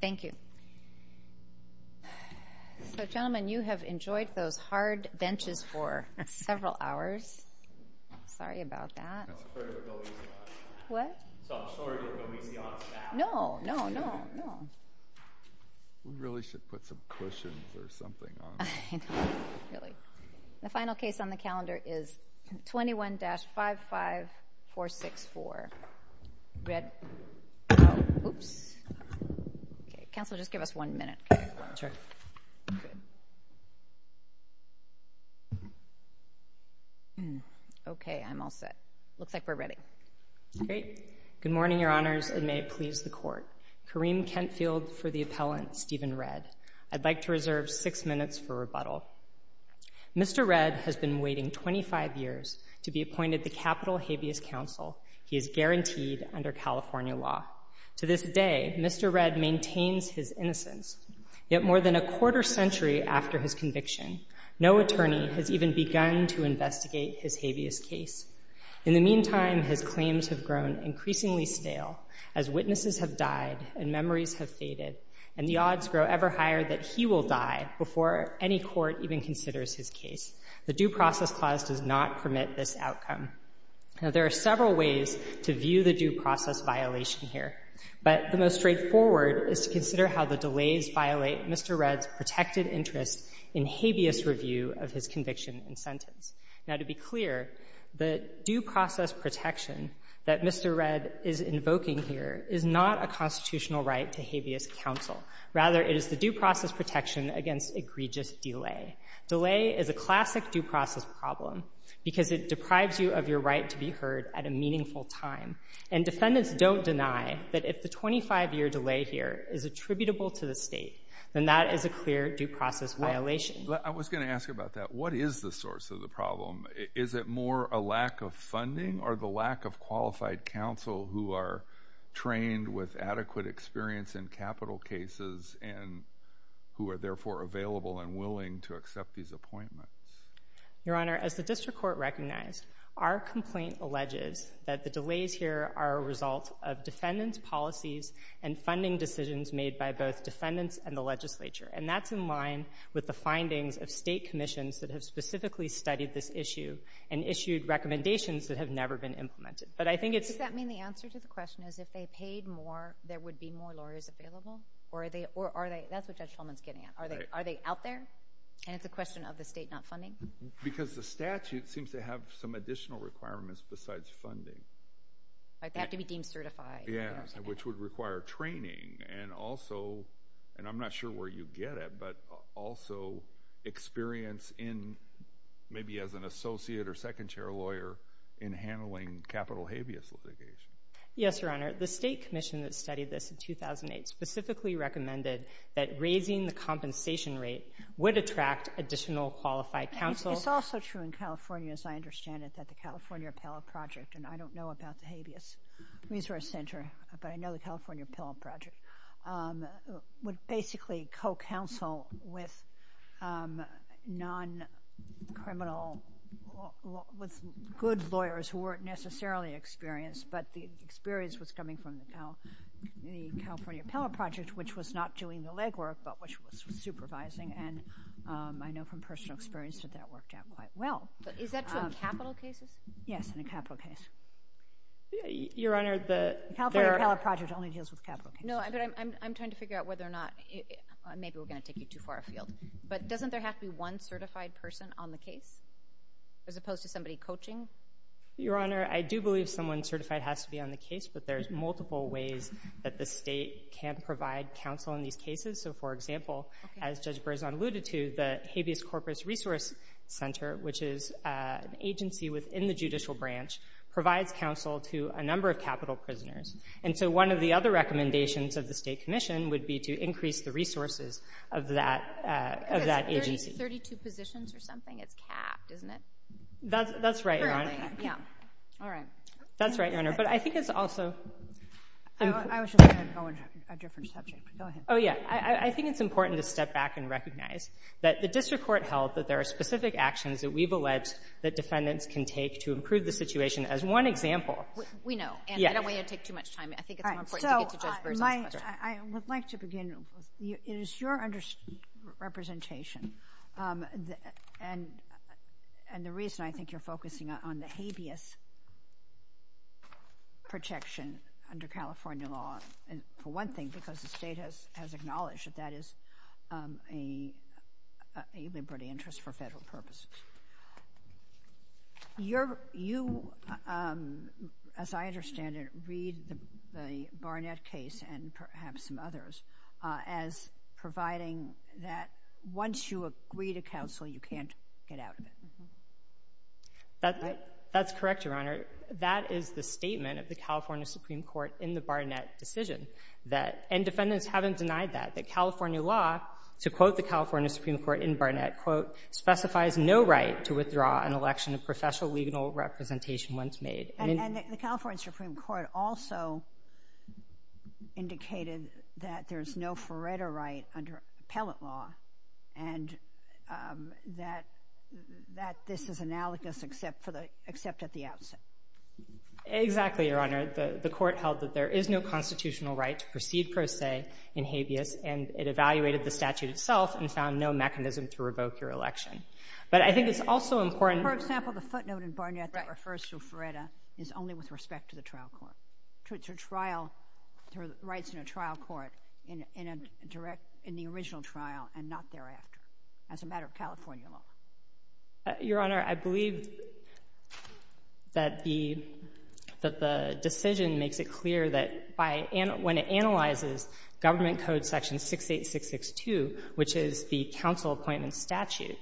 Thank you. So gentlemen, you have enjoyed those hard benches for several hours. I'm sorry about that. I'm sorry to go easy on you. What? I'm sorry to go easy on staff. No, no, no, no. We really should put some cushions or something on. I know, really. The final case on the calendar is 21-55464. Redd. Oops. Counsel, just give us one minute. Sure. Good. Okay. I'm all set. Looks like we're ready. Great. Good morning, Your Honors, and may it please the Court. Kareem Kentfield for the appellant, Stephen Redd. I'd like to reserve six minutes for rebuttal. Mr. Redd has been waiting 25 years to be appointed the Capitol Habeas Counsel. He is guaranteed under California law. To this day, Mr. Redd maintains his innocence. Yet more than a quarter century after his conviction, no attorney has even begun to investigate his habeas case. In the meantime, his claims have grown increasingly stale as witnesses have died and memories have faded, and the odds grow ever higher that he will die before any court even considers his case. The Due Process Clause does not permit this outcome. Now, there are several ways to view the due process violation here, but the most straightforward is to consider how the delays violate Mr. Redd's protected interest in habeas review of his conviction and sentence. Now, to be clear, the due process protection that Mr. Redd is invoking here is not a constitutional right to habeas counsel. Rather, it is the due process protection against egregious delay. Delay is a classic due process problem because it deprives you of your right to be heard at a meaningful time. And defendants don't deny that if the 25-year delay here is attributable to the state, then that is a clear due process violation. I was going to ask you about that. What is the source of the problem? Is it more a lack of funding or the lack of qualified counsel who are trained with adequate experience in capital cases and who are therefore available and willing to accept these appointments? Your Honor, as the district court recognized, our complaint alleges that the delays here are a result of defendants' policies and funding decisions made by both defendants and the legislature. And that's in line with the findings of state commissions that have specifically studied this issue and issued recommendations that have never been implemented. But I think it's... Does that mean the answer to the question is if they paid more, there would be more lawyers available? Or are they... that's what Judge Fulman is getting at. Are they out there? And it's a question of the state not funding? Because the statute seems to have some additional requirements besides funding. Like they have to be deemed certified. Yeah, which would require training and also, and I'm not sure where you get it, but also experience in maybe as an associate or second chair lawyer in handling capital habeas litigation. Yes, Your Honor. The state commission that studied this in 2008 specifically recommended that raising the compensation rate would attract additional qualified counsel. It's also true in California, as I understand it, that the California Appellate Project, and I don't know about the Habeas Resource Center, but I know the California Appellate Project, would basically co-counsel with non-criminal, with good lawyers who weren't necessarily experienced, but the experience was coming from the California Appellate Project, which was not doing the legwork, but which was supervising. And I know from personal experience that that worked out quite well. Is that true in capital cases? Yes, in a capital case. Your Honor, the— The California Appellate Project only deals with capital cases. No, but I'm trying to figure out whether or not, maybe we're going to take you too far afield, but doesn't there have to be one certified person on the case as opposed to somebody coaching? Your Honor, I do believe someone certified has to be on the case, but there's multiple ways that the state can provide counsel in these cases. So, for example, as Judge Berzon alluded to, the Habeas Corpus Resource Center, which is an agency within the judicial branch, provides counsel to a number of capital prisoners. And so one of the other recommendations of the state commission would be to increase the resources of that agency. 32 positions or something? It's capped, isn't it? That's right, Your Honor. All right. That's right, Your Honor, but I think it's also— I was just going to go on a different subject. Go ahead. Oh, yeah. I think it's important to step back and recognize that the district court held that there are specific actions that we've alleged that defendants can take to improve the situation. As one example— We know, and I don't want you to take too much time. I think it's more important to get to Judge Berzon's question. So, I would like to begin. It is your representation, and the reason I think you're focusing on the habeas protection under California law, for one thing, because the state has acknowledged that that is a liberty interest for federal purposes. You, as I understand it, read the Barnett case, and perhaps some others, as providing that once you agree to counsel, you can't get out of it. That's correct, Your Honor. That is the statement of the California Supreme Court in the Barnett decision, and defendants haven't denied that, that California law, to quote the California Supreme Court in Barnett, quote, specifies no right to withdraw an election of professional legal representation once made. And the California Supreme Court also indicated that there's no Faretta right under appellate law, and that this is analogous except at the outset. Exactly, Your Honor. The court held that there is no constitutional right to proceed per se in habeas, and it evaluated the statute itself and found no mechanism to revoke your election. But I think it's also important— For example, the footnote in Barnett that refers to Faretta is only with respect to the trial court, to rights in a trial court in the original trial and not thereafter, as a matter of California law. Your Honor, I believe that the decision makes it clear that when it analyzes Government Code Section 68662, which is the counsel appointment statute,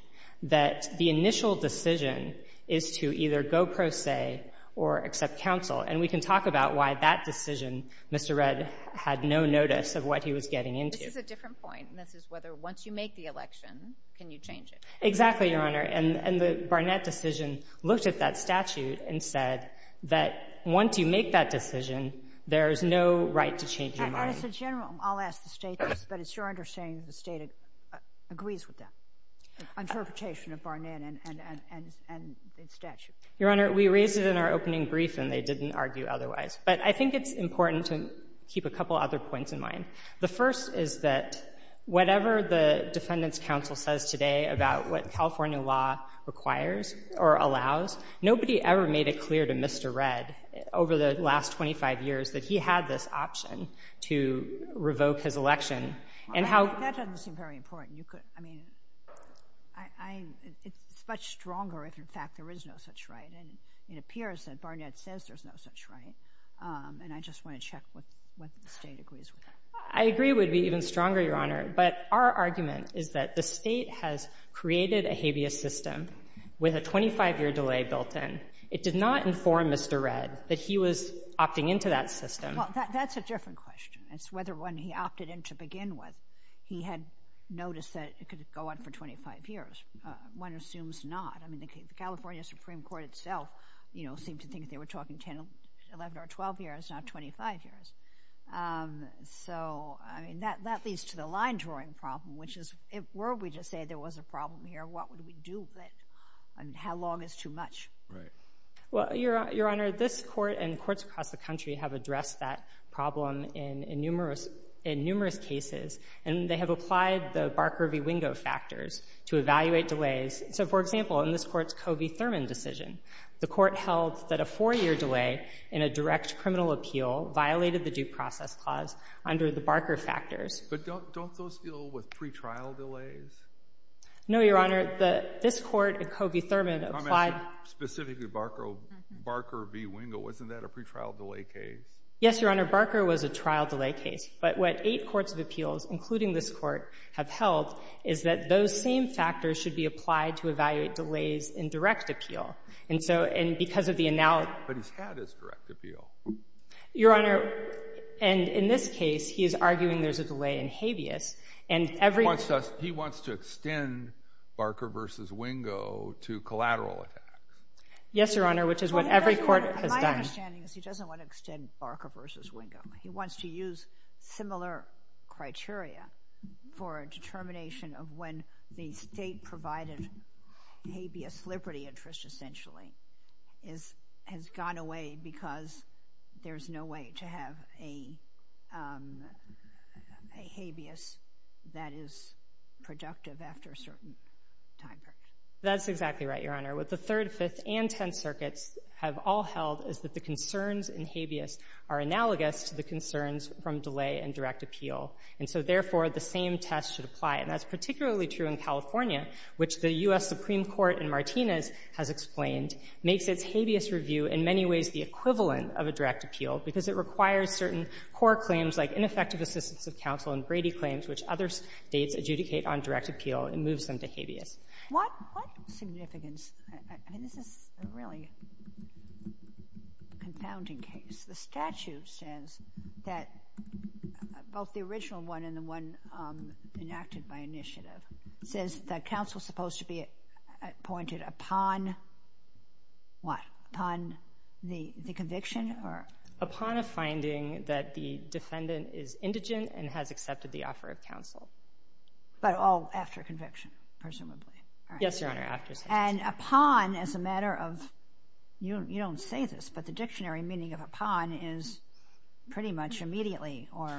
that the initial decision is to either go pro se or accept counsel. And we can talk about why that decision, Mr. Redd, had no notice of what he was getting into. This is a different point, and this is whether once you make the election, can you change it. Exactly, Your Honor. And the Barnett decision looked at that statute and said that once you make that decision, there is no right to change your mind. But as a general—I'll ask the State this, but it's your understanding that the State agrees with that, the interpretation of Barnett and its statute. Your Honor, we raised it in our opening brief, and they didn't argue otherwise. But I think it's important to keep a couple other points in mind. The first is that whatever the Defendants' Counsel says today about what California law requires or allows, nobody ever made it clear to Mr. Redd over the last 25 years that he had this option to revoke his election. That doesn't seem very important. It's much stronger if, in fact, there is no such right. And it appears that Barnett says there's no such right. And I just want to check what the State agrees with. I agree it would be even stronger, Your Honor. But our argument is that the State has created a habeas system with a 25-year delay built in. It did not inform Mr. Redd that he was opting into that system. Well, that's a different question. It's whether when he opted in to begin with, he had noticed that it could go on for 25 years. One assumes not. I mean, the California Supreme Court itself, you know, seemed to think they were talking 10, 11, or 12 years, not 25 years. So, I mean, that leads to the line-drawing problem, which is, were we to say there was a problem here, what would we do with it, and how long is too much? Right. Well, Your Honor, this court and courts across the country have addressed that problem in numerous cases, and they have applied the Barker v. Wingo factors to evaluate delays. So, for example, in this court's Covey-Thurman decision, the court held that a four-year delay in a direct criminal appeal violated the due process clause under the Barker factors. But don't those deal with pretrial delays? No, Your Honor. Your Honor, this court and Covey-Thurman applied— I'm asking specifically Barker v. Wingo. Wasn't that a pretrial delay case? Yes, Your Honor. Barker was a trial delay case. But what eight courts of appeals, including this court, have held is that those same factors should be applied to evaluate delays in direct appeal. And so, and because of the analogy— But he's had his direct appeal. Your Honor, and in this case, he is arguing there's a delay in habeas, and every— He wants to extend Barker v. Wingo to collateral attack. Yes, Your Honor, which is what every court has done. My understanding is he doesn't want to extend Barker v. Wingo. He wants to use similar criteria for a determination of when the state-provided habeas liberty interest, essentially, has gone away because there's no way to have a habeas that is productive after a certain time period. That's exactly right, Your Honor. What the Third, Fifth, and Tenth Circuits have all held is that the concerns in habeas are analogous to the concerns from delay in direct appeal. And so, therefore, the same test should apply. And that's particularly true in California, which the U.S. Supreme Court in Martinez has explained makes its habeas review in many ways the equivalent of a direct appeal because it requires certain core claims like ineffective assistance of counsel and Brady claims, which other states adjudicate on direct appeal and moves them to habeas. What significance, and this is a really confounding case, the statute says that both the original one and the one enacted by initiative says that counsel is supposed to be appointed upon what? Upon the conviction or? Upon a finding that the defendant is indigent and has accepted the offer of counsel. But all after conviction, presumably. Yes, Your Honor, after sentence. And upon as a matter of, you don't say this, but the dictionary meaning of upon is pretty much immediately or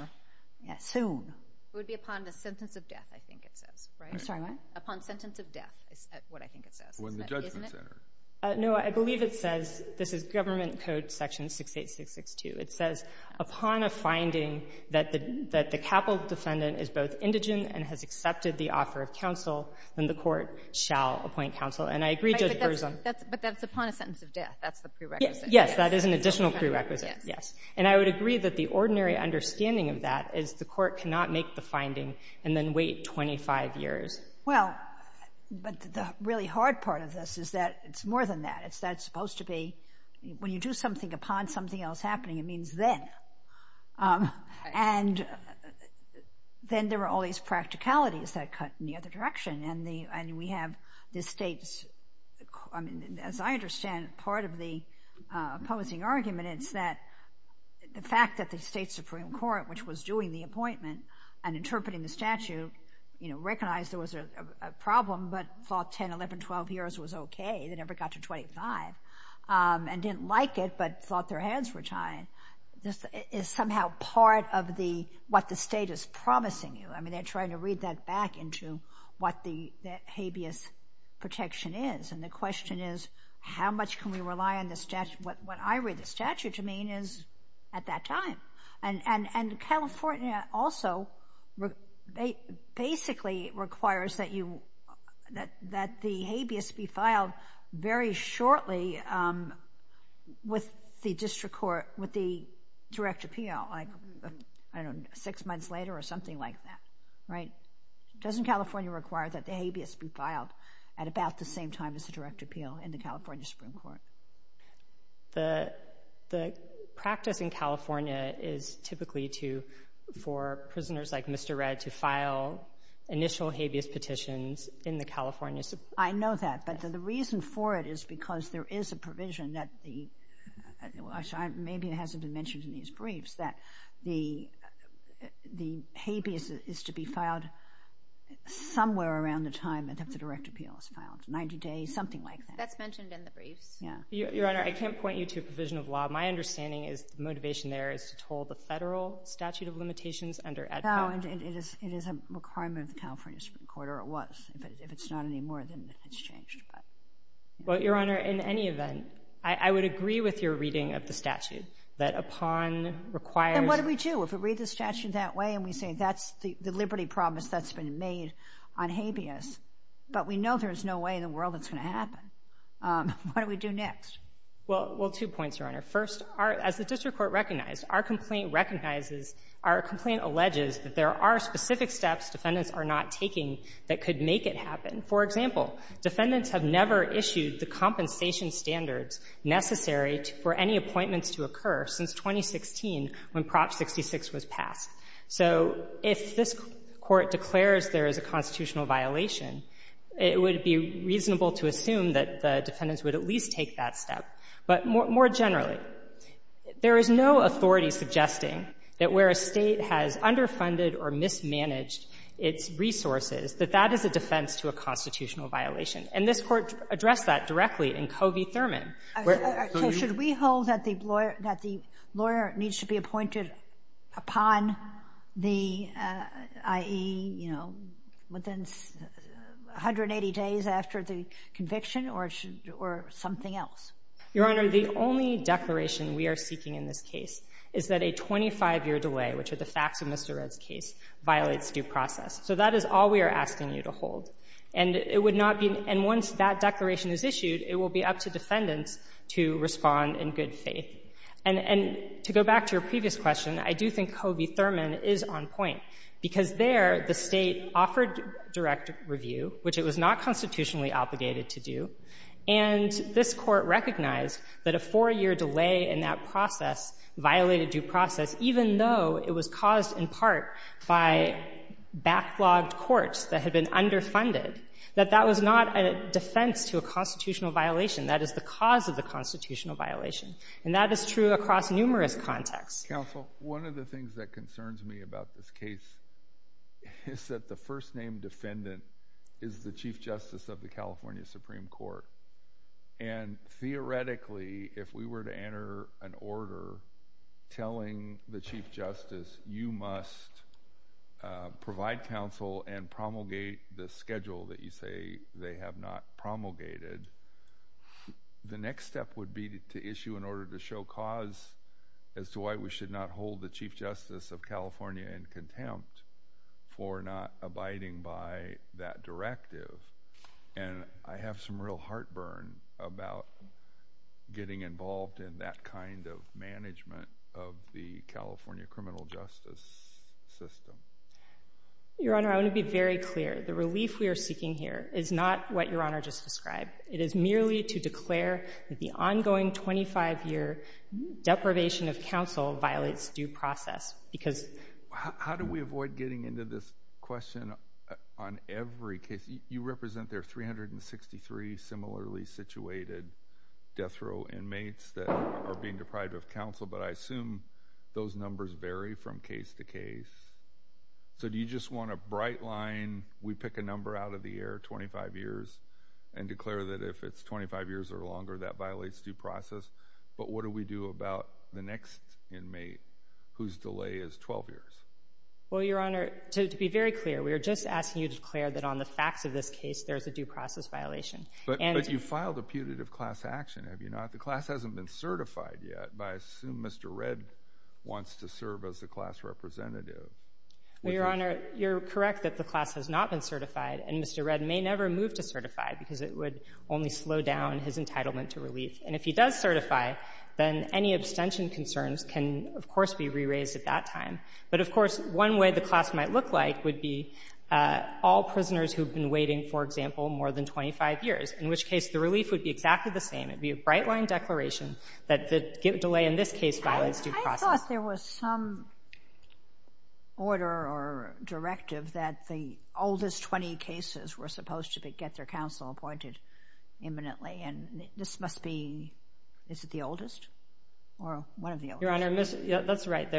soon. It would be upon the sentence of death, I think it says, right? I'm sorry, what? Upon sentence of death is what I think it says. Well, in the Judgment Center. Isn't it? No, I believe it says, this is Government Code Section 68662. It says, upon a finding that the capital defendant is both indigent and has accepted the offer of counsel, then the court shall appoint counsel. And I agree, Judge Berzum. But that's upon a sentence of death. That's the prerequisite. Yes, that is an additional prerequisite. Yes. And I would agree that the ordinary understanding of that is the court cannot make the finding and then wait 25 years. Well, but the really hard part of this is that it's more than that. That's supposed to be, when you do something upon something else happening, it means then. And then there are all these practicalities that cut in the other direction. And we have the states, I mean, as I understand part of the opposing argument, it's that the fact that the State Supreme Court, which was doing the appointment and interpreting the statute, recognized there was a problem but thought 10, 11, 12 years was okay, they never got to 25, and didn't like it but thought their hands were tied, is somehow part of what the State is promising you. I mean, they're trying to read that back into what the habeas protection is. And the question is, how much can we rely on the statute? What I read the statute to mean is, at that time. And California also basically requires that the habeas be filed very shortly with the district court, with the direct appeal, I don't know, six months later or something like that, right? Doesn't California require that the habeas be filed at about the same time as the direct appeal in the California Supreme Court? The practice in California is typically for prisoners like Mr. Redd to file initial habeas petitions in the California Supreme Court. I know that, but the reason for it is because there is a provision that the, maybe it hasn't been mentioned in these briefs, that the habeas is to be filed somewhere around the time that the direct appeal is filed, 90 days, something like that. That's mentioned in the briefs. Your Honor, I can't point you to a provision of law. My understanding is the motivation there is to toll the federal statute of limitations under EDPA. No, it is a requirement of the California Supreme Court, or it was. If it's not anymore, then it's changed. Well, Your Honor, in any event, I would agree with your reading of the statute, that upon required— And what do we do if we read the statute that way, and we say that's the liberty promise that's been made on habeas? But we know there's no way in the world it's going to happen. What do we do next? Well, two points, Your Honor. First, as the district court recognized, our complaint recognizes, our complaint alleges that there are specific steps defendants are not taking that could make it happen. For example, defendants have never issued the compensation standards necessary for any appointments to occur since 2016 when Prop 66 was passed. So if this Court declares there is a constitutional violation, it would be reasonable to assume that the defendants would at least take that step. But more generally, there is no authority suggesting that where a State has underfunded or mismanaged its resources, that that is a defense to a constitutional violation. And this Court addressed that directly in Covey-Thurman. So should we hold that the lawyer needs to be appointed upon the I.E., you know, within 180 days after the conviction, or something else? Your Honor, the only declaration we are seeking in this case is that a 25-year delay, which are the facts of Mr. Redd's case, violates due process. So that is all we are asking you to hold. And it would not be — and once that declaration is issued, it will be up to defendants to respond in good faith. And to go back to your previous question, I do think Covey-Thurman is on point, because there the State offered direct review, which it was not constitutionally obligated to do, and this Court recognized that a four-year delay in that process violated due process, even though it was caused in part by backlogged courts that had been underfunded. That that was not a defense to a constitutional violation. That is the cause of the constitutional violation. And that is true across numerous contexts. Counsel, one of the things that concerns me about this case is that the first-name defendant is the Chief Justice of the California Supreme Court. And theoretically, if we were to enter an order telling the Chief Justice, you must provide counsel and promulgate the schedule that you say they have not promulgated, the next step would be to issue an order to show cause as to why we should not hold the Chief Justice of California in contempt for not abiding by that directive. And I have some real heartburn about getting involved in that kind of management of the California criminal justice system. Your Honor, I want to be very clear. The relief we are seeking here is not what Your Honor just described. It is merely to declare that the ongoing 25-year deprivation of counsel violates due process. How do we avoid getting into this question on every case? You represent there are 363 similarly situated death row inmates that are being deprived of counsel, but I assume those numbers vary from case to case. So do you just want a bright line, we pick a number out of the air, 25 years, and declare that if it's 25 years or longer, that violates due process? But what do we do about the next inmate whose delay is 12 years? Well, Your Honor, to be very clear, we are just asking you to declare that on the facts of this case, there is a due process violation. But you filed a putative class action, have you not? The class hasn't been certified yet, but I assume Mr. Redd wants to serve as the class representative. Well, Your Honor, you're correct that the class has not been certified, and Mr. Redd may never move to certify because it would only slow down his entitlement to relief. And if he does certify, then any abstention concerns can, of course, be re-raised at that time. But, of course, one way the class might look like would be all prisoners who have been waiting, for example, more than 25 years, in which case the relief would be exactly the same. It would be a bright-line declaration that the delay in this case violates due process. I thought there was some order or directive that the oldest 20 cases were supposed to get their counsel appointed imminently, and this must be, is it the oldest or one of the oldest? Your Honor, that's right.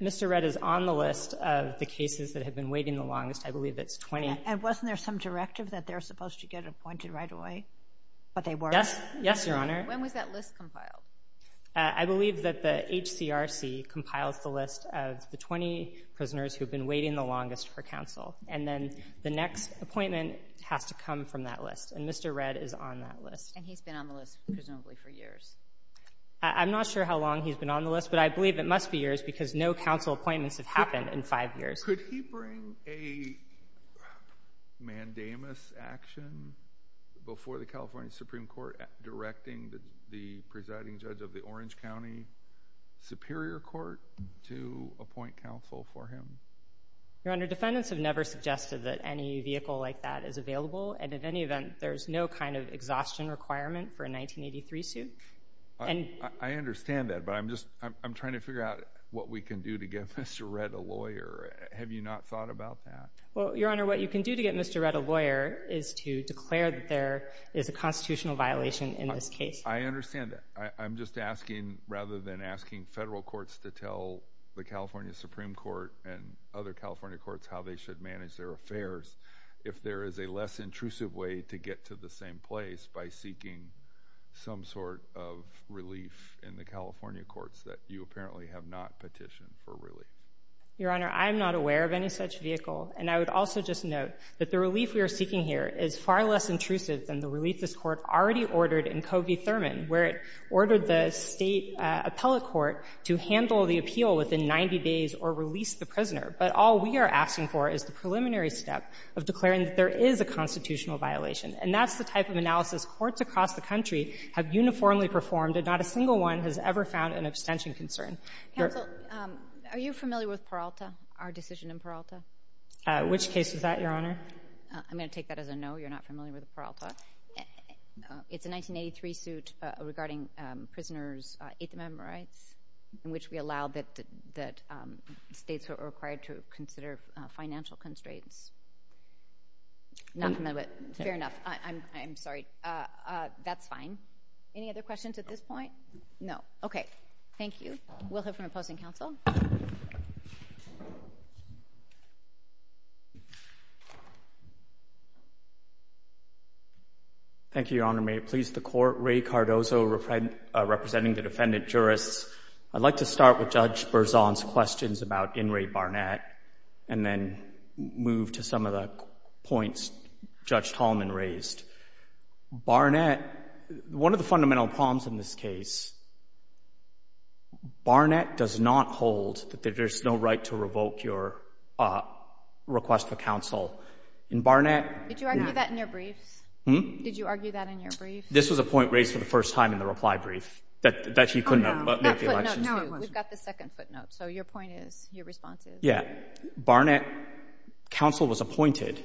Mr. Redd is on the list of the cases that have been waiting the longest. I believe it's 20. And wasn't there some directive that they're supposed to get appointed right away, but they weren't? Yes, Your Honor. When was that list compiled? I believe that the HCRC compiles the list of the 20 prisoners who have been waiting the longest for counsel, and then the next appointment has to come from that list, and Mr. Redd is on that list. And he's been on the list, presumably, for years? I'm not sure how long he's been on the list, but I believe it must be years because no counsel appointments have happened in five years. Could he bring a mandamus action before the California Supreme Court directing the presiding judge of the Orange County Superior Court to appoint counsel for him? Your Honor, defendants have never suggested that any vehicle like that is available, and in any event, there's no kind of exhaustion requirement for a 1983 suit. I understand that, but I'm trying to figure out what we can do to get Mr. Redd a lawyer. Have you not thought about that? Well, Your Honor, what you can do to get Mr. Redd a lawyer is to declare that there is a constitutional violation in this case. I understand that. I'm just asking, rather than asking federal courts to tell the California Supreme Court and other California courts how they should manage their affairs, if there is a less intrusive way to get to the same place by seeking some sort of relief in the California courts that you apparently have not petitioned for relief. Your Honor, I am not aware of any such vehicle, and I would also just note that the relief we are seeking here is far less intrusive than the relief this court already ordered in Covey Thurman, where it ordered the state appellate court to handle the appeal within 90 days or release the prisoner. But all we are asking for is the preliminary step of declaring that there is a constitutional violation. And that's the type of analysis courts across the country have uniformly performed, and not a single one has ever found an abstention concern. Counsel, are you familiar with Peralta, our decision in Peralta? Which case was that, Your Honor? I'm going to take that as a no. You're not familiar with Peralta. It's a 1983 suit regarding prisoners' Eighth Amendment rights, in which we allow that states are required to consider financial constraints. Not familiar, but fair enough. I'm sorry. That's fine. Any other questions at this point? No. Okay. We'll hear from opposing counsel. Thank you, Your Honor. May it please the Court, Ray Cardozo representing the defendant jurists. I'd like to start with Judge Berzon's questions about In re Barnett, and then move to some of the points Judge Tallman raised. Barnett, one of the fundamental problems in this case, Barnett does not hold that there's no right to revoke your request for counsel. In Barnett, Did you argue that in your briefs? Hmm? Did you argue that in your briefs? This was a point raised for the first time in the reply brief, that he couldn't make the election. No. We've got the second footnote. So your point is, your response is? Yeah. Barnett, counsel was appointed,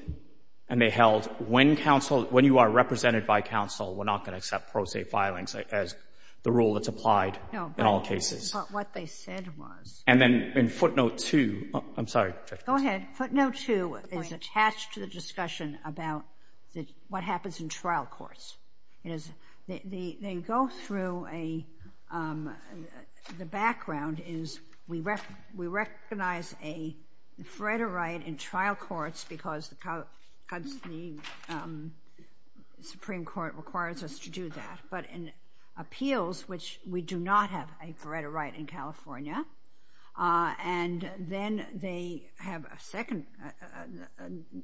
and they held when you are represented by counsel, we're not going to accept pro se filings as the rule that's applied in all cases. No, but what they said was. And then in footnote two, I'm sorry. Go ahead. Footnote two is attached to the discussion about what happens in trial courts. They go through a, the background is we recognize a right in trial courts because the Supreme Court requires us to do that. But in appeals, which we do not have a right in California, and then they have a second,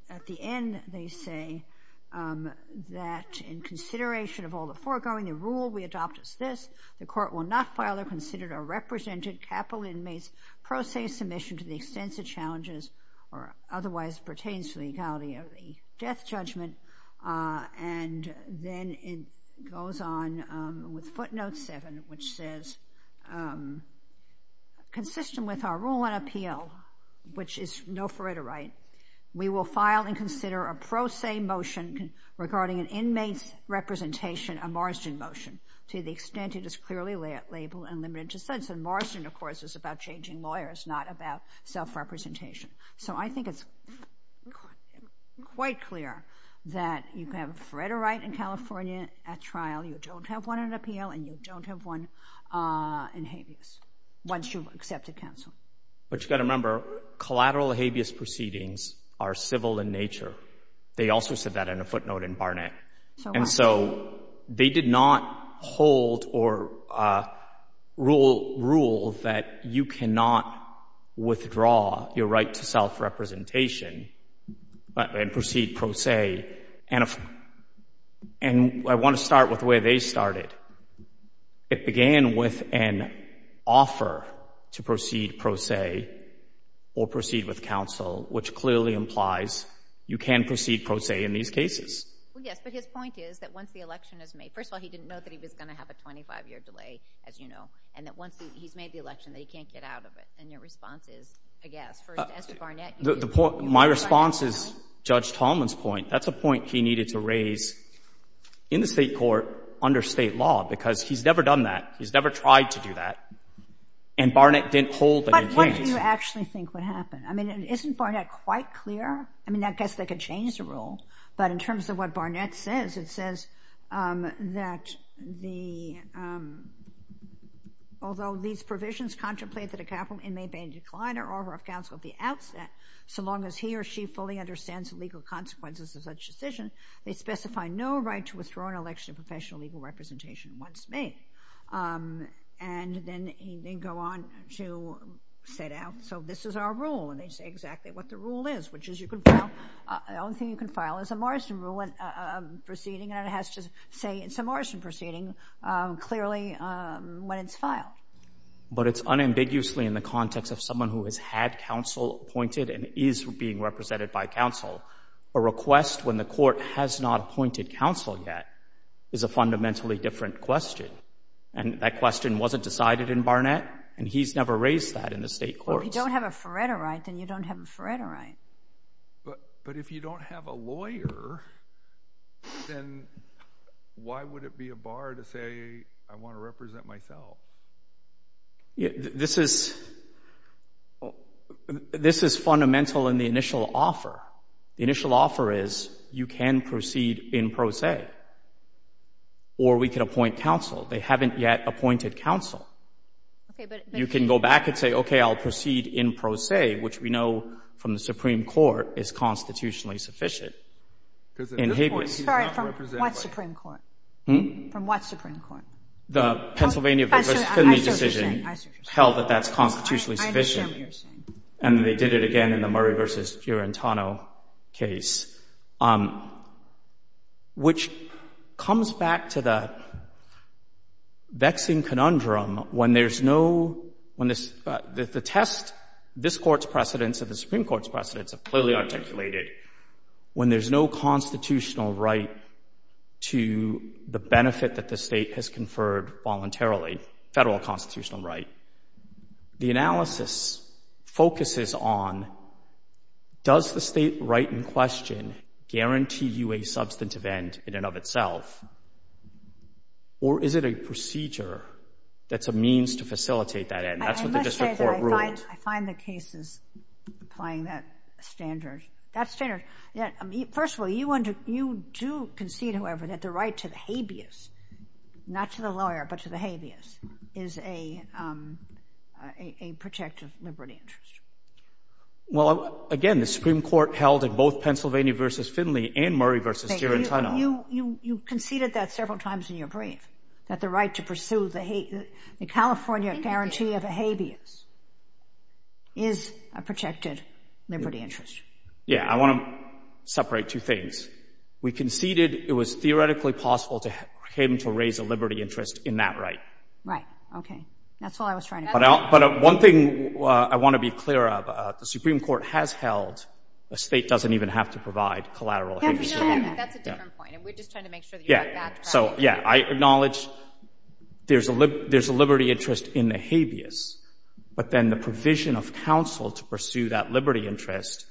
at the end they say that in consideration of all the foregoing, the rule we adopt is this. The court will not file or consider a represented capital inmate's pro se submission to the extensive challenges or otherwise pertains to the legality of the death judgment. And then it goes on with footnote seven, which says consistent with our rule on appeal, which is no foratorite, we will file and consider a pro se motion regarding an inmate's representation, a Marsden motion, to the extent it is clearly labeled and limited to sentence. And Marsden, of course, is about changing lawyers, not about self-representation. So I think it's quite clear that you can have a foratorite in California at trial, you don't have one in appeal, and you don't have one in habeas once you've accepted counsel. But you've got to remember, collateral habeas proceedings are civil in nature. They also said that in a footnote in Barnett. And so they did not hold or rule that you cannot withdraw your right to self-representation and proceed pro se. And I want to start with the way they started. It began with an offer to proceed pro se or proceed with counsel, which clearly implies you can proceed pro se in these cases. Well, yes, but his point is that once the election is made, first of all, he didn't know that he was going to have a 25-year delay, as you know, and that once he's made the election, that he can't get out of it. And your response is, I guess, as to Barnett, My response is Judge Tallman's point. That's a point he needed to raise in the state court under state law, because he's never done that. He's never tried to do that. And Barnett didn't hold that he can't. But what do you actually think would happen? I mean, isn't Barnett quite clear? I mean, I guess they could change the rule. But in terms of what Barnett says, it says that the, although these provisions contemplate that a capital inmate may decline her offer of counsel at the outset, so long as he or she fully understands the legal consequences of such a decision. They specify no right to withdraw an election of professional legal representation once made. And then they go on to set out, so this is our rule. And they say exactly what the rule is, which is you can file, the only thing you can file is a Morrison rule proceeding, and it has to say it's a Morrison proceeding clearly when it's filed. But it's unambiguously in the context of someone who has had counsel appointed and is being represented by counsel, a request when the court has not appointed counsel yet is a fundamentally different question. And that question wasn't decided in Barnett, and he's never raised that in the state courts. Well, if you don't have a Faretta right, then you don't have a Faretta right. But if you don't have a lawyer, then why would it be a bar to say I want to represent myself? This is fundamental in the initial offer. The initial offer is you can proceed in pro se, or we can appoint counsel. They haven't yet appointed counsel. You can go back and say, okay, I'll proceed in pro se, which we know from the Supreme Court is constitutionally sufficient. Sorry, from what Supreme Court? From what Supreme Court? The Pennsylvania v. Kennedy decision held that that's constitutionally sufficient. I understand what you're saying. And they did it again in the Murray v. Durantano case, which comes back to the vexing conundrum when there's no – when the test this Court's precedents or the Supreme Court's precedents are clearly articulated, when there's no constitutional right to the benefit that the state has conferred voluntarily, federal constitutional right, the analysis focuses on does the state right in question guarantee you a substantive end in and of itself, or is it a procedure that's a means to facilitate that end? That's what the district court ruled. I find the cases applying that standard. Well, again, the Supreme Court held in both Pennsylvania v. Finley and Murray v. Durantano. You conceded that several times in your brief, that the right to pursue the California guarantee of a habeas is a protected liberty interest. Yeah. I want to separate two things. We conceded it was theoretically possible to him to raise a liberty interest in that right. Right. Okay. That's all I was trying to get at. But one thing I want to be clear of, the Supreme Court has held a state doesn't even have to provide collateral habeas. That's a different point, and we're just trying to make sure that you got that correct. Yeah. So, yeah, I acknowledge there's a liberty interest in the habeas, but then the provision of counsel to pursue that liberty interest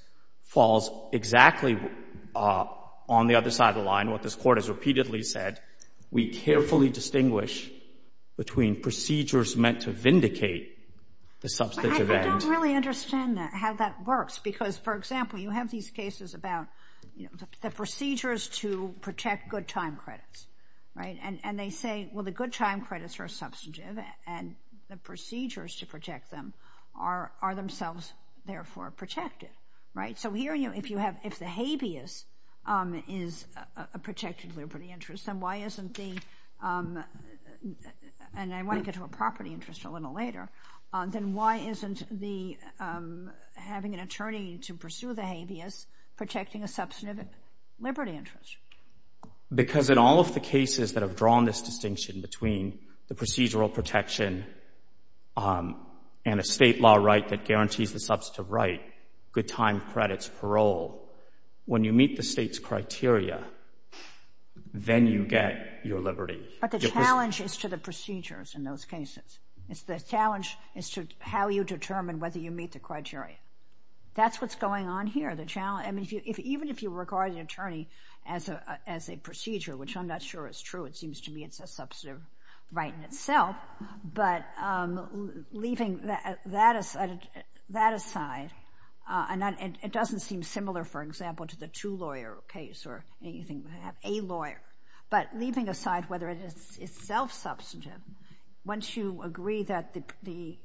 falls exactly on the other side of the line, what this Court has repeatedly said. We carefully distinguish between procedures meant to vindicate the substantive I don't really understand how that works, because, for example, you have these cases about the procedures to protect good time credits, right? And they say, well, the good time credits are substantive, and the procedures to protect them are themselves, therefore, protective, right? So here, if you have, if the habeas is a protected liberty interest, then why isn't the, and I want to get to a property interest a little later, then why isn't the having an attorney to pursue the habeas protecting a substantive liberty interest? Because in all of the cases that have drawn this distinction between the procedural protection and a state law right that guarantees the substantive right, good time credits, parole, when you meet the state's criteria, then you get your liberty. But the challenge is to the procedures in those cases. The challenge is to how you determine whether you meet the criteria. That's what's going on here. The challenge, I mean, even if you regard an attorney as a procedure, which I'm not sure is true. It seems to me it's a substantive right in itself. But leaving that aside, and it doesn't seem similar, for example, to the two-lawyer case or anything where you have a lawyer, but leaving aside whether it is self-substantive, once you agree that the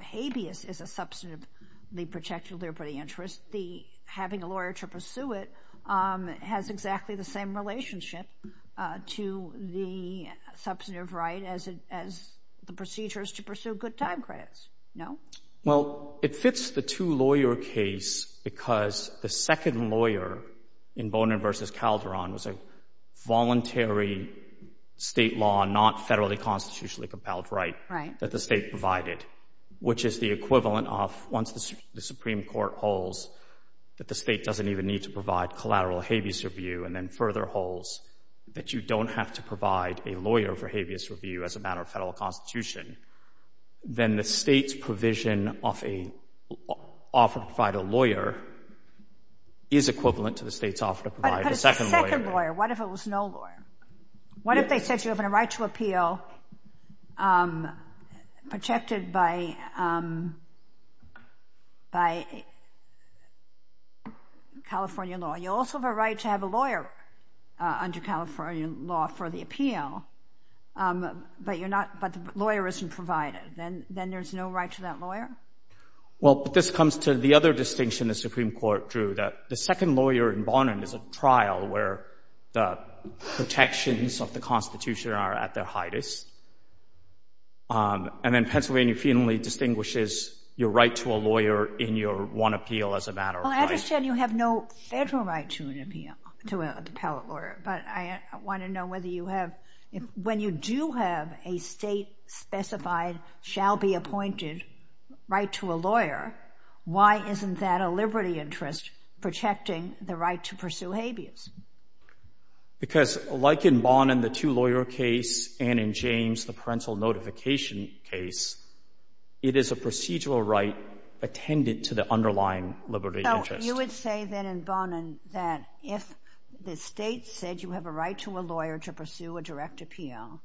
habeas is a substantively protected liberty interest, the having a lawyer to pursue it has exactly the same relationship to the substantive right as the procedures to pursue good time credits. No? Well, it fits the two-lawyer case because the second lawyer in Bonin v. Calderon was a voluntary state law, not federally constitutionally compelled right that the state provided, which is the equivalent of once the Supreme Court holds that the state doesn't even need to provide collateral habeas review and then further holds that you don't have to provide a lawyer for habeas review as a matter of federal constitution, then the state's provision of an offer to provide a lawyer is equivalent to the state's offer to provide a second lawyer. But if it's a second lawyer, what if it was no lawyer? What if they said you have a right to appeal protected by California law? You also have a right to have a lawyer under California law for the appeal, but the lawyer isn't provided. Then there's no right to that lawyer? Well, this comes to the other distinction the Supreme Court drew, that the second lawyer in Bonin is a trial where the protections of the Constitution are at their highest. And then Pennsylvania feudally distinguishes your right to a lawyer in your one appeal as a matter of right. Well, I understand you have no federal right to an appeal, to a appellate lawyer, but I want to know whether you have, when you do have a state-specified, shall-be-appointed right to a lawyer, why isn't that a liberty interest protecting the right to pursue habeas? Because like in Bonin, the two-lawyer case, and in James, the parental notification case, it is a procedural right attendant to the underlying liberty interest. So you would say then in Bonin that if the state said you have a right to a lawyer to pursue a direct appeal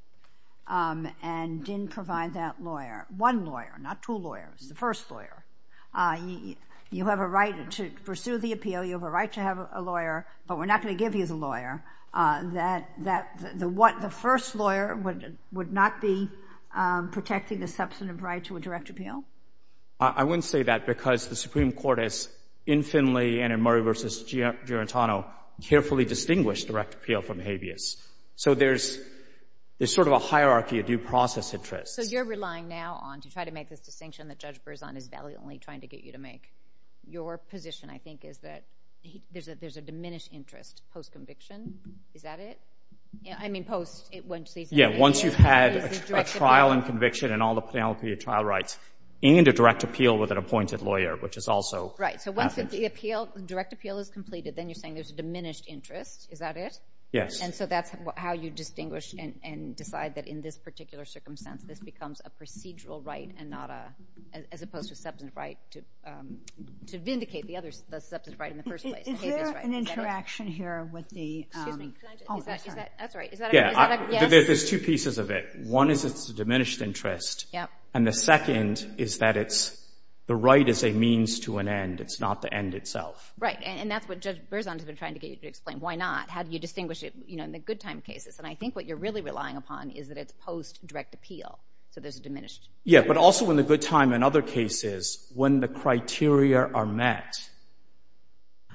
and didn't provide that lawyer, one lawyer, not two lawyers, the first lawyer, you have a right to pursue the appeal, you have a right to have a lawyer, but we're not going to give you the lawyer, that the first lawyer would not be protecting the substantive right to a direct appeal? I wouldn't say that because the Supreme Court has infinitely, and in Murray v. Girentano, carefully distinguished direct appeal from habeas. So there's sort of a hierarchy of due process interests. So you're relying now on, to try to make this distinction that Judge Berzon is valiantly trying to get you to make, your position, I think, is that there's a diminished interest post-conviction. Is that it? I mean, post-season. Yeah, once you've had a trial and conviction and all the penalty of trial rights and a direct appeal with an appointed lawyer, which is also... Right, so once the direct appeal is completed, then you're saying there's a diminished interest. Is that it? Yes. And so that's how you distinguish and decide that in this particular circumstance, this becomes a procedural right as opposed to a substantive right to vindicate the substantive right in the first place, the habeas right. Is there an interaction here with the... Excuse me. That's right. There's two pieces of it. One is it's a diminished interest, and the second is that the right is a means to an end. It's not the end itself. Right, and that's what Judge Berzon has been trying to get you to explain. Why not? How do you distinguish it in the good time cases? And I think what you're really relying upon is that it's post-direct appeal, so there's a diminished... Yeah, but also in the good time and other cases, when the criteria are met,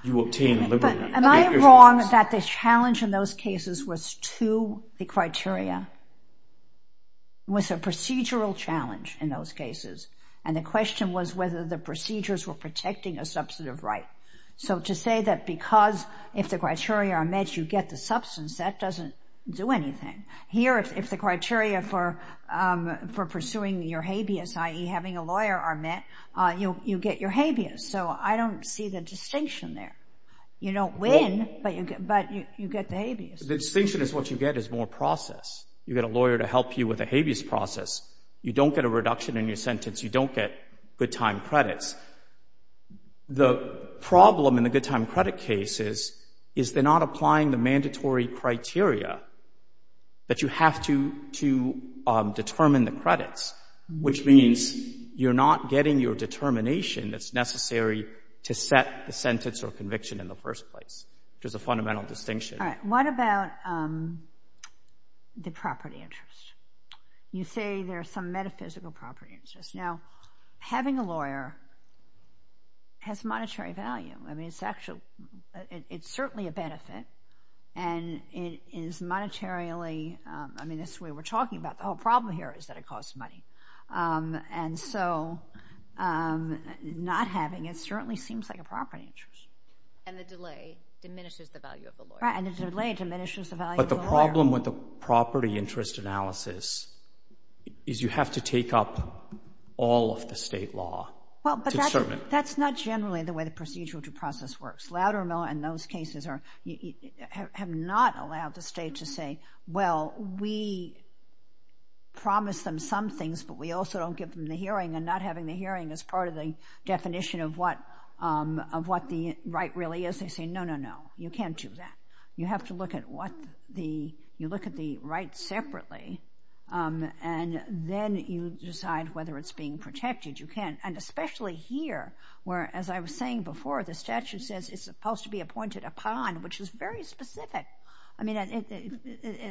you obtain a liberty. Am I wrong that the challenge in those cases was to the criteria? It was a procedural challenge in those cases, and the question was whether the procedures were protecting a substantive right. So to say that because if the criteria are met, you get the substance, that doesn't do anything. Here, if the criteria for pursuing your habeas, i.e., having a lawyer are met, you get your habeas, so I don't see the distinction there. You don't win, but you get the habeas. The distinction is what you get is more process. You get a lawyer to help you with the habeas process. You don't get a reduction in your sentence. You don't get good time credits. The problem in the good time credit cases is they're not applying the mandatory criteria that you have to determine the credits, which means you're not getting your determination that's necessary to set the sentence or conviction in the first place, which is a fundamental distinction. All right, what about the property interest? You say there's some metaphysical property interest. Now, having a lawyer has monetary value. I mean, it's actually, it's certainly a benefit, and it is monetarily, I mean, that's the way we're talking about it. The whole problem here is that it costs money, and so not having it certainly seems like a property interest. And the delay diminishes the value of the lawyer. Right, and the delay diminishes the value of the lawyer. But the problem with the property interest analysis is you have to take up all of the state law to determine it. That's not generally the way the procedural due process works. Loudermill and those cases have not allowed the state to say, well, we promise them some things, but we also don't give them the hearing, and not having the hearing is part of the definition of what the right really is. They say, no, no, no, you can't do that. You have to look at what the, you look at the rights separately, and then you decide whether it's being protected. You can't, and especially here, where, as I was saying before, the statute says it's supposed to be appointed upon, which is very specific. I mean,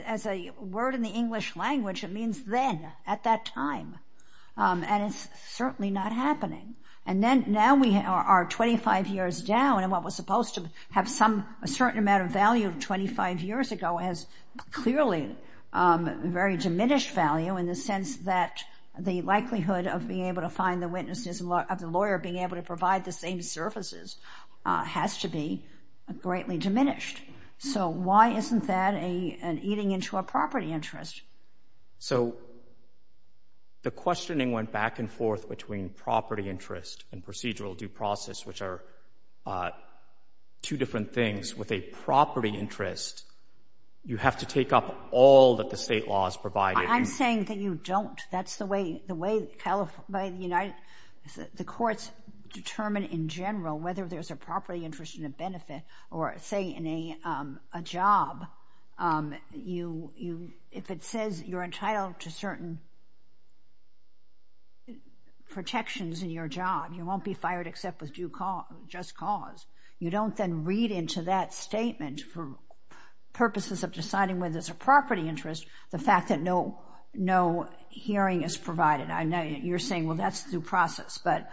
as a word in the English language, it means then, at that time. And it's certainly not happening. And now we are 25 years down, and what was supposed to have a certain amount of value 25 years ago has clearly very diminished value in the sense that the likelihood of being able to find the witnesses, of the lawyer being able to provide the same services has to be greatly diminished. So why isn't that an eating into a property interest? So the questioning went back and forth between property interest and procedural due process, which are two different things. With a property interest, you have to take up all that the state law has provided. I'm saying that you don't. That's the way the courts determine in general whether there's a property interest and a benefit, or, say, in a job, if it says you're entitled to certain protections in your job, you won't be fired except with due cause, just cause. You don't then read into that statement for purposes of deciding whether there's a property interest or just the fact that no hearing is provided. You're saying, well, that's due process, but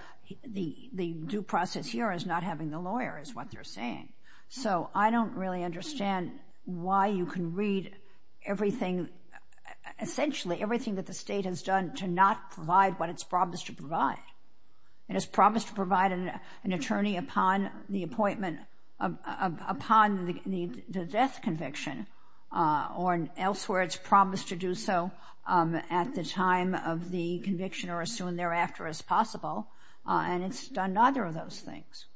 the due process here is not having the lawyer, is what they're saying. So I don't really understand why you can read everything, essentially everything that the state has done to not provide what it's promised to provide. It is promised to provide an attorney upon the appointment, or elsewhere it's promised to do so at the time of the conviction or as soon thereafter as possible, and it's done neither of those things.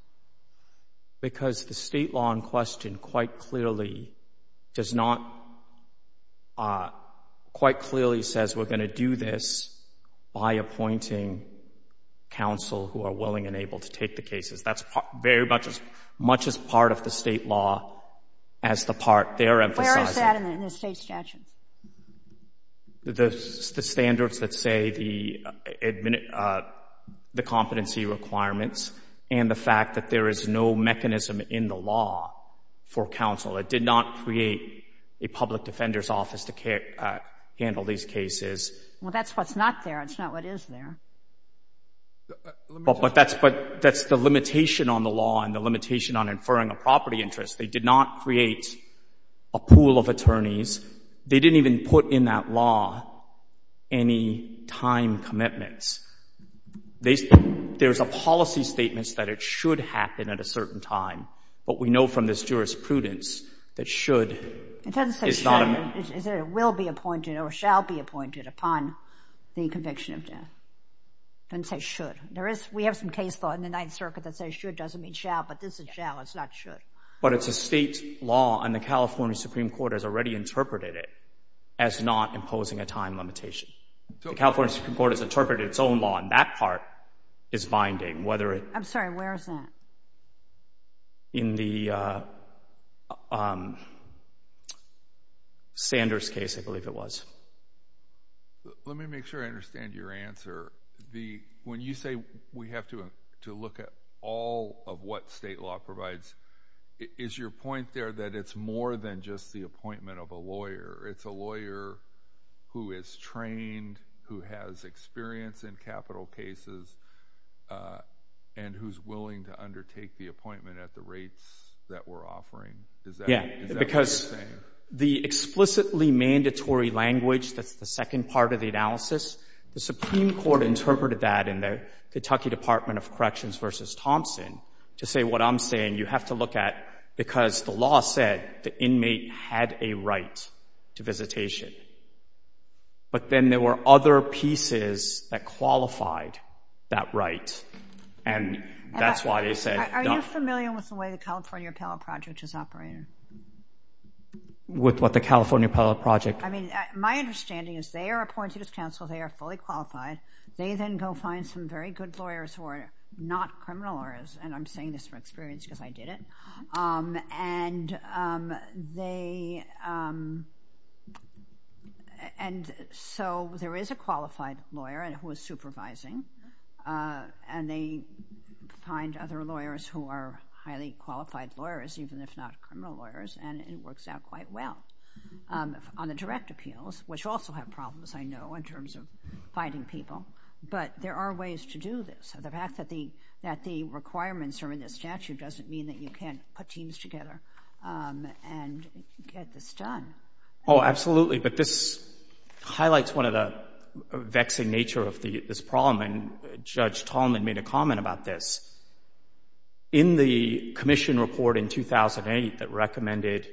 Because the state law in question quite clearly does not, quite clearly says we're going to do this by appointing counsel who are willing and able to take the cases. That's very much as part of the state law as the part they're emphasizing. Where is that in the state statute? The standards that say the competency requirements and the fact that there is no mechanism in the law for counsel. It did not create a public defender's office to handle these cases. Well, that's what's not there. That's not what is there. But that's the limitation on the law and the limitation on inferring a property interest. They did not create a pool of attorneys. They didn't even put in that law any time commitments. There's a policy statement that it should happen at a certain time, but we know from this jurisprudence that should is not a... Don't say should. We have some case law in the Ninth Circuit that says should doesn't mean shall, but this is shall, it's not should. But it's a state law, and the California Supreme Court has already interpreted it as not imposing a time limitation. The California Supreme Court has interpreted its own law, and that part is binding. I'm sorry, where is that? In the Sanders case, I believe it was. Let me make sure I understand your answer. When you say we have to look at all of what state law provides, is your point there that it's more than just the appointment of a lawyer? It's a lawyer who is trained, who has experience in capital cases, and who's willing to undertake the appointment at the rates that we're offering? Because the explicitly mandatory language that's the second part of the analysis, the Supreme Court interpreted that in the Kentucky Department of Corrections versus Thompson to say what I'm saying, you have to look at because the law said the inmate had a right to visitation. But then there were other pieces that qualified that right, and that's why they said... Are you familiar with the way the California Appellate Project is operated? With what? The California Appellate Project? My understanding is they are appointed as counsel. They are fully qualified. They then go find some very good lawyers who are not criminal lawyers, and I'm saying this from experience because I did it. So there is a qualified lawyer who is supervising, and they find other lawyers who are highly qualified lawyers, even if not criminal lawyers, and it works out quite well. On the direct appeals, which also have problems, I know, in terms of finding people, but there are ways to do this. The fact that the requirements are in the statute doesn't mean that you can't put teams together and get this done. Oh, absolutely, but this highlights one of the vexing nature of this problem, and Judge Tallman made a comment about this. In the commission report in 2008 that recommended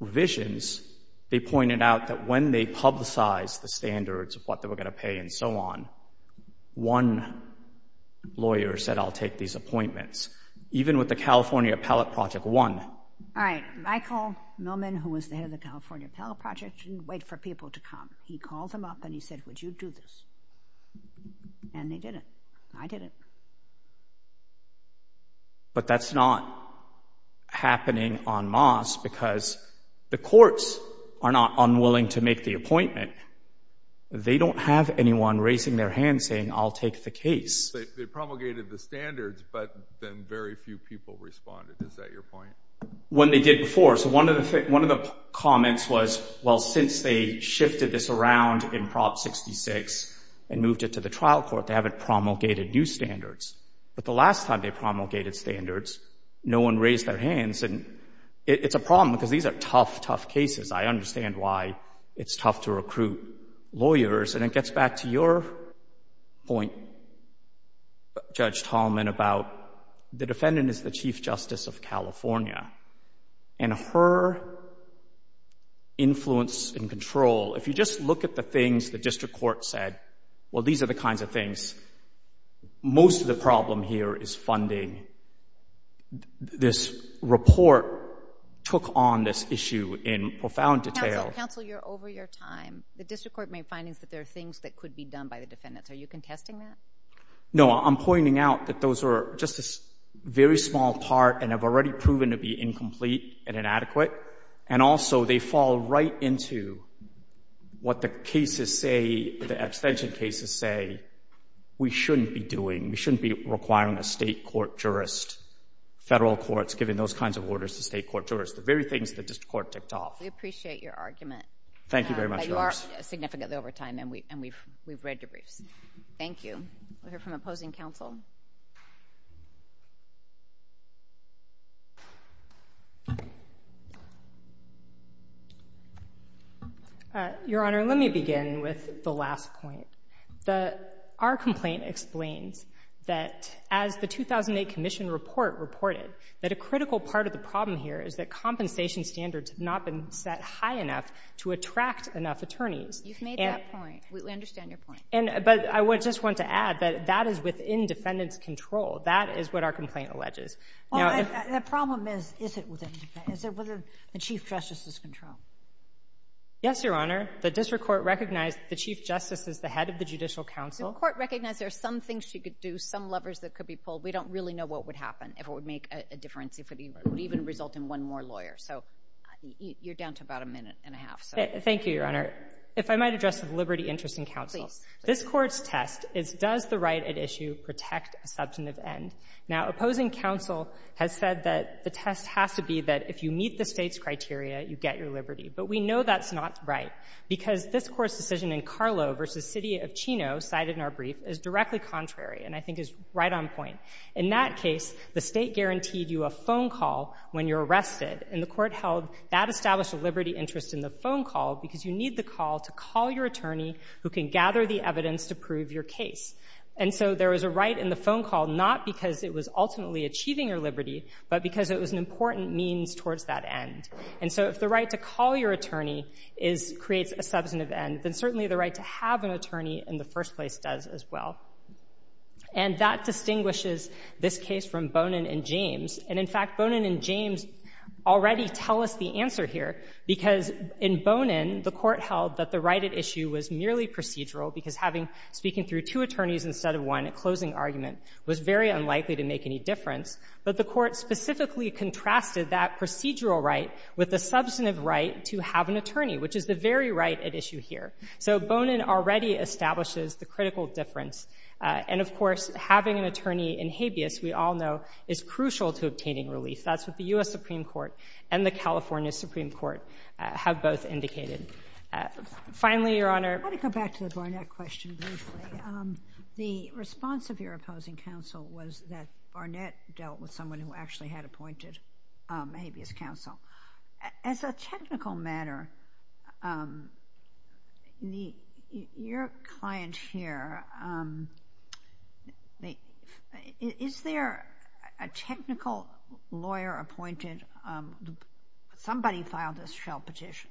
revisions, they pointed out that when they publicized the standards of what they were going to pay and so on, one lawyer said, I'll take these appointments, even with the California Appellate Project 1. Michael Millman, who was the head of the California Appellate Project, didn't wait for people to come. He called them up and he said, would you do this? And they did it. I did it. But that's not happening on Moss because the courts are not unwilling to make the appointment. They don't have anyone raising their hand saying, I'll take the case. They promulgated the standards, but then very few people responded. Is that your point? When they did before. So one of the comments was, well, since they shifted this around in Prop 66 and moved it to the trial court, they haven't promulgated new standards. But the last time they promulgated standards, no one raised their hands. And it's a problem because these are tough, tough cases. I understand why it's tough to recruit lawyers. And it gets back to your point, Judge Tallman, about the defendant is the Chief Justice of California and her influence and control. If you just look at the things the district court said, well, these are the kinds of things. Most of the problem here is funding. This report took on this issue in profound detail. Counsel, you're over your time. The district court made findings that there are things that could be done by the defendants. Are you contesting that? No, I'm pointing out that those are just a very small part and have already proven to be incomplete and inadequate. And also they fall right into what the cases say, the extension cases say, we shouldn't be doing. We shouldn't be requiring a state court jurist, federal courts, giving those kinds of orders to state court jurists, the very things the district court ticked off. We appreciate your argument. Thank you very much. But you are significantly over time, and we've read your briefs. Thank you. We'll hear from opposing counsel. Your Honor, let me begin with the last point. Our complaint explains that as the 2008 commission report reported, that a critical part of the problem here is that compensation standards have not been set high enough to attract enough attorneys. You've made that point. We understand your point. But I just want to add that that is within defendant's control. That is what our complaint alleges. The problem is, is it within the Chief Justice's control? Yes, Your Honor. The district court recognized the Chief Justice as the head of the Judicial Council. The court recognized there are some things she could do, some levers that could be pulled. We don't really know what would happen, if it would make a difference, if it would even result in one more lawyer. So you're down to about a minute and a half. Thank you, Your Honor. Your Honor, if I might address the liberty interest in counsel. Please. This Court's test is, does the right at issue protect a substantive end? Now, opposing counsel has said that the test has to be that if you meet the State's criteria, you get your liberty. But we know that's not right, because this Court's decision in Carlo v. City of Chino, cited in our brief, is directly contrary and I think is right on point. In that case, the State guaranteed you a phone call when you're arrested, and the Court held that established a liberty interest in the phone call because you need the call to call your attorney who can gather the evidence to prove your case. And so there was a right in the phone call, not because it was ultimately achieving your liberty, but because it was an important means towards that end. And so if the right to call your attorney creates a substantive end, then certainly the right to have an attorney in the first place does as well. And that distinguishes this case from Bonin and James. And in fact, Bonin and James already tell us the answer here, because in Bonin, the Court held that the right at issue was merely procedural, because speaking through two attorneys instead of one at closing argument was very unlikely to make any difference. But the Court specifically contrasted that procedural right with the substantive right to have an attorney, which is the very right at issue here. So Bonin already establishes the critical difference. And of course, having an attorney in habeas, we all know, is crucial to obtaining Finally, Your Honor. I want to go back to the Barnett question briefly. The response of your opposing counsel was that Barnett dealt with someone who actually had appointed habeas counsel. As a technical matter, your client here, is there a technical lawyer appointed, somebody filed a shell petition.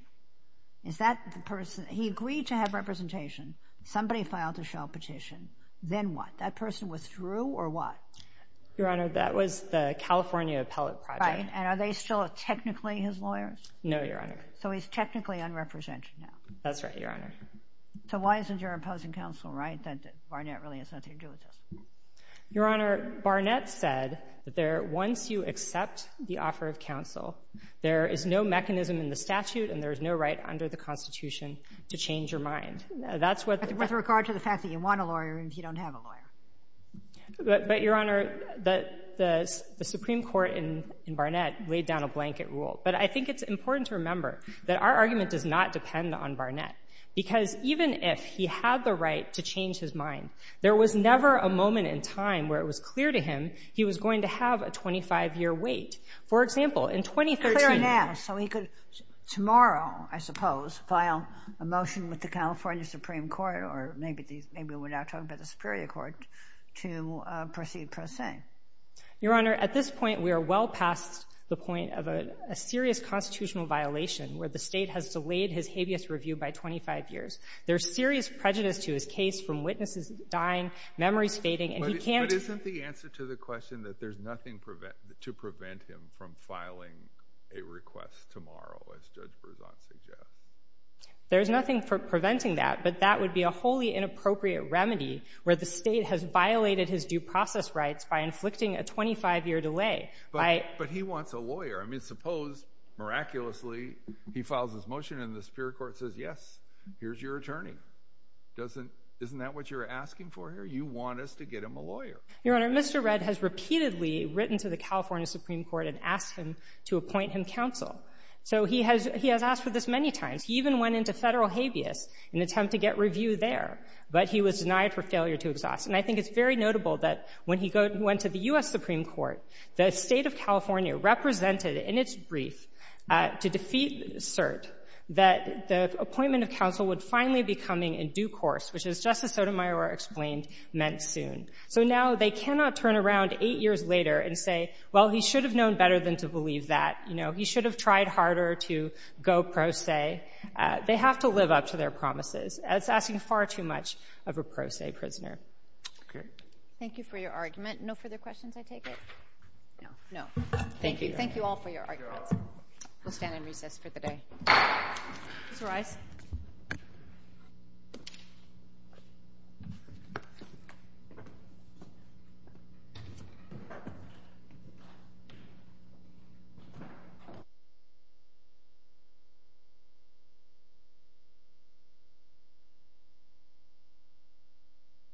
He agreed to have representation. Somebody filed a shell petition. Then what? That person withdrew, or what? Your Honor, that was the California Appellate Project. And are they still technically his lawyers? No, Your Honor. So he's technically unrepresented now. That's right, Your Honor. So why isn't your opposing counsel right that Barnett really has nothing to do with this? Your Honor, Barnett said that once you accept the offer of counsel, there is no mechanism in the statute and there is no right under the Constitution to change your mind. With regard to the fact that you want a lawyer and you don't have a lawyer. But, Your Honor, the Supreme Court in Barnett laid down a blanket rule. But I think it's important to remember that our argument does not depend on Barnett. Because even if he had the right to change his mind, there was never a moment in time where it was clear to him he was going to have a 25-year wait. For example, in 2013— Clear now so he could tomorrow, I suppose, file a motion with the California Supreme Court or maybe we're now talking about the Superior Court to proceed pro se. Your Honor, at this point we are well past the point of a serious constitutional violation where the state has delayed his habeas review by 25 years. There's serious prejudice to his case from witnesses dying, memories fading, and he can't— But isn't the answer to the question that there's nothing to prevent him from filing a request tomorrow, as Judge Berzon suggests? There's nothing preventing that, but that would be a wholly inappropriate remedy where the state has violated his due process rights by inflicting a 25-year delay. But he wants a lawyer. I mean, suppose, miraculously, he files his motion and the Superior Court says, yes, here's your attorney. Isn't that what you're asking for here? You want us to get him a lawyer. Your Honor, Mr. Redd has repeatedly written to the California Supreme Court and asked him to appoint him counsel. So he has asked for this many times. He even went into federal habeas in an attempt to get review there, but he was denied for failure to exhaust. And I think it's very notable that when he went to the U.S. Supreme Court, the State of California represented in its brief to defeat cert that the appointment of counsel would finally be coming in due course, which, as Justice Sotomayor explained, meant soon. So now they cannot turn around eight years later and say, well, he should have known better than to believe that. You know, he should have tried harder to go pro se. They have to live up to their promises. It's asking far too much of a pro se prisoner. Thank you for your argument. No further questions, I take it? No. Thank you all for your arguments. We'll stand and recess for the day. Please rise.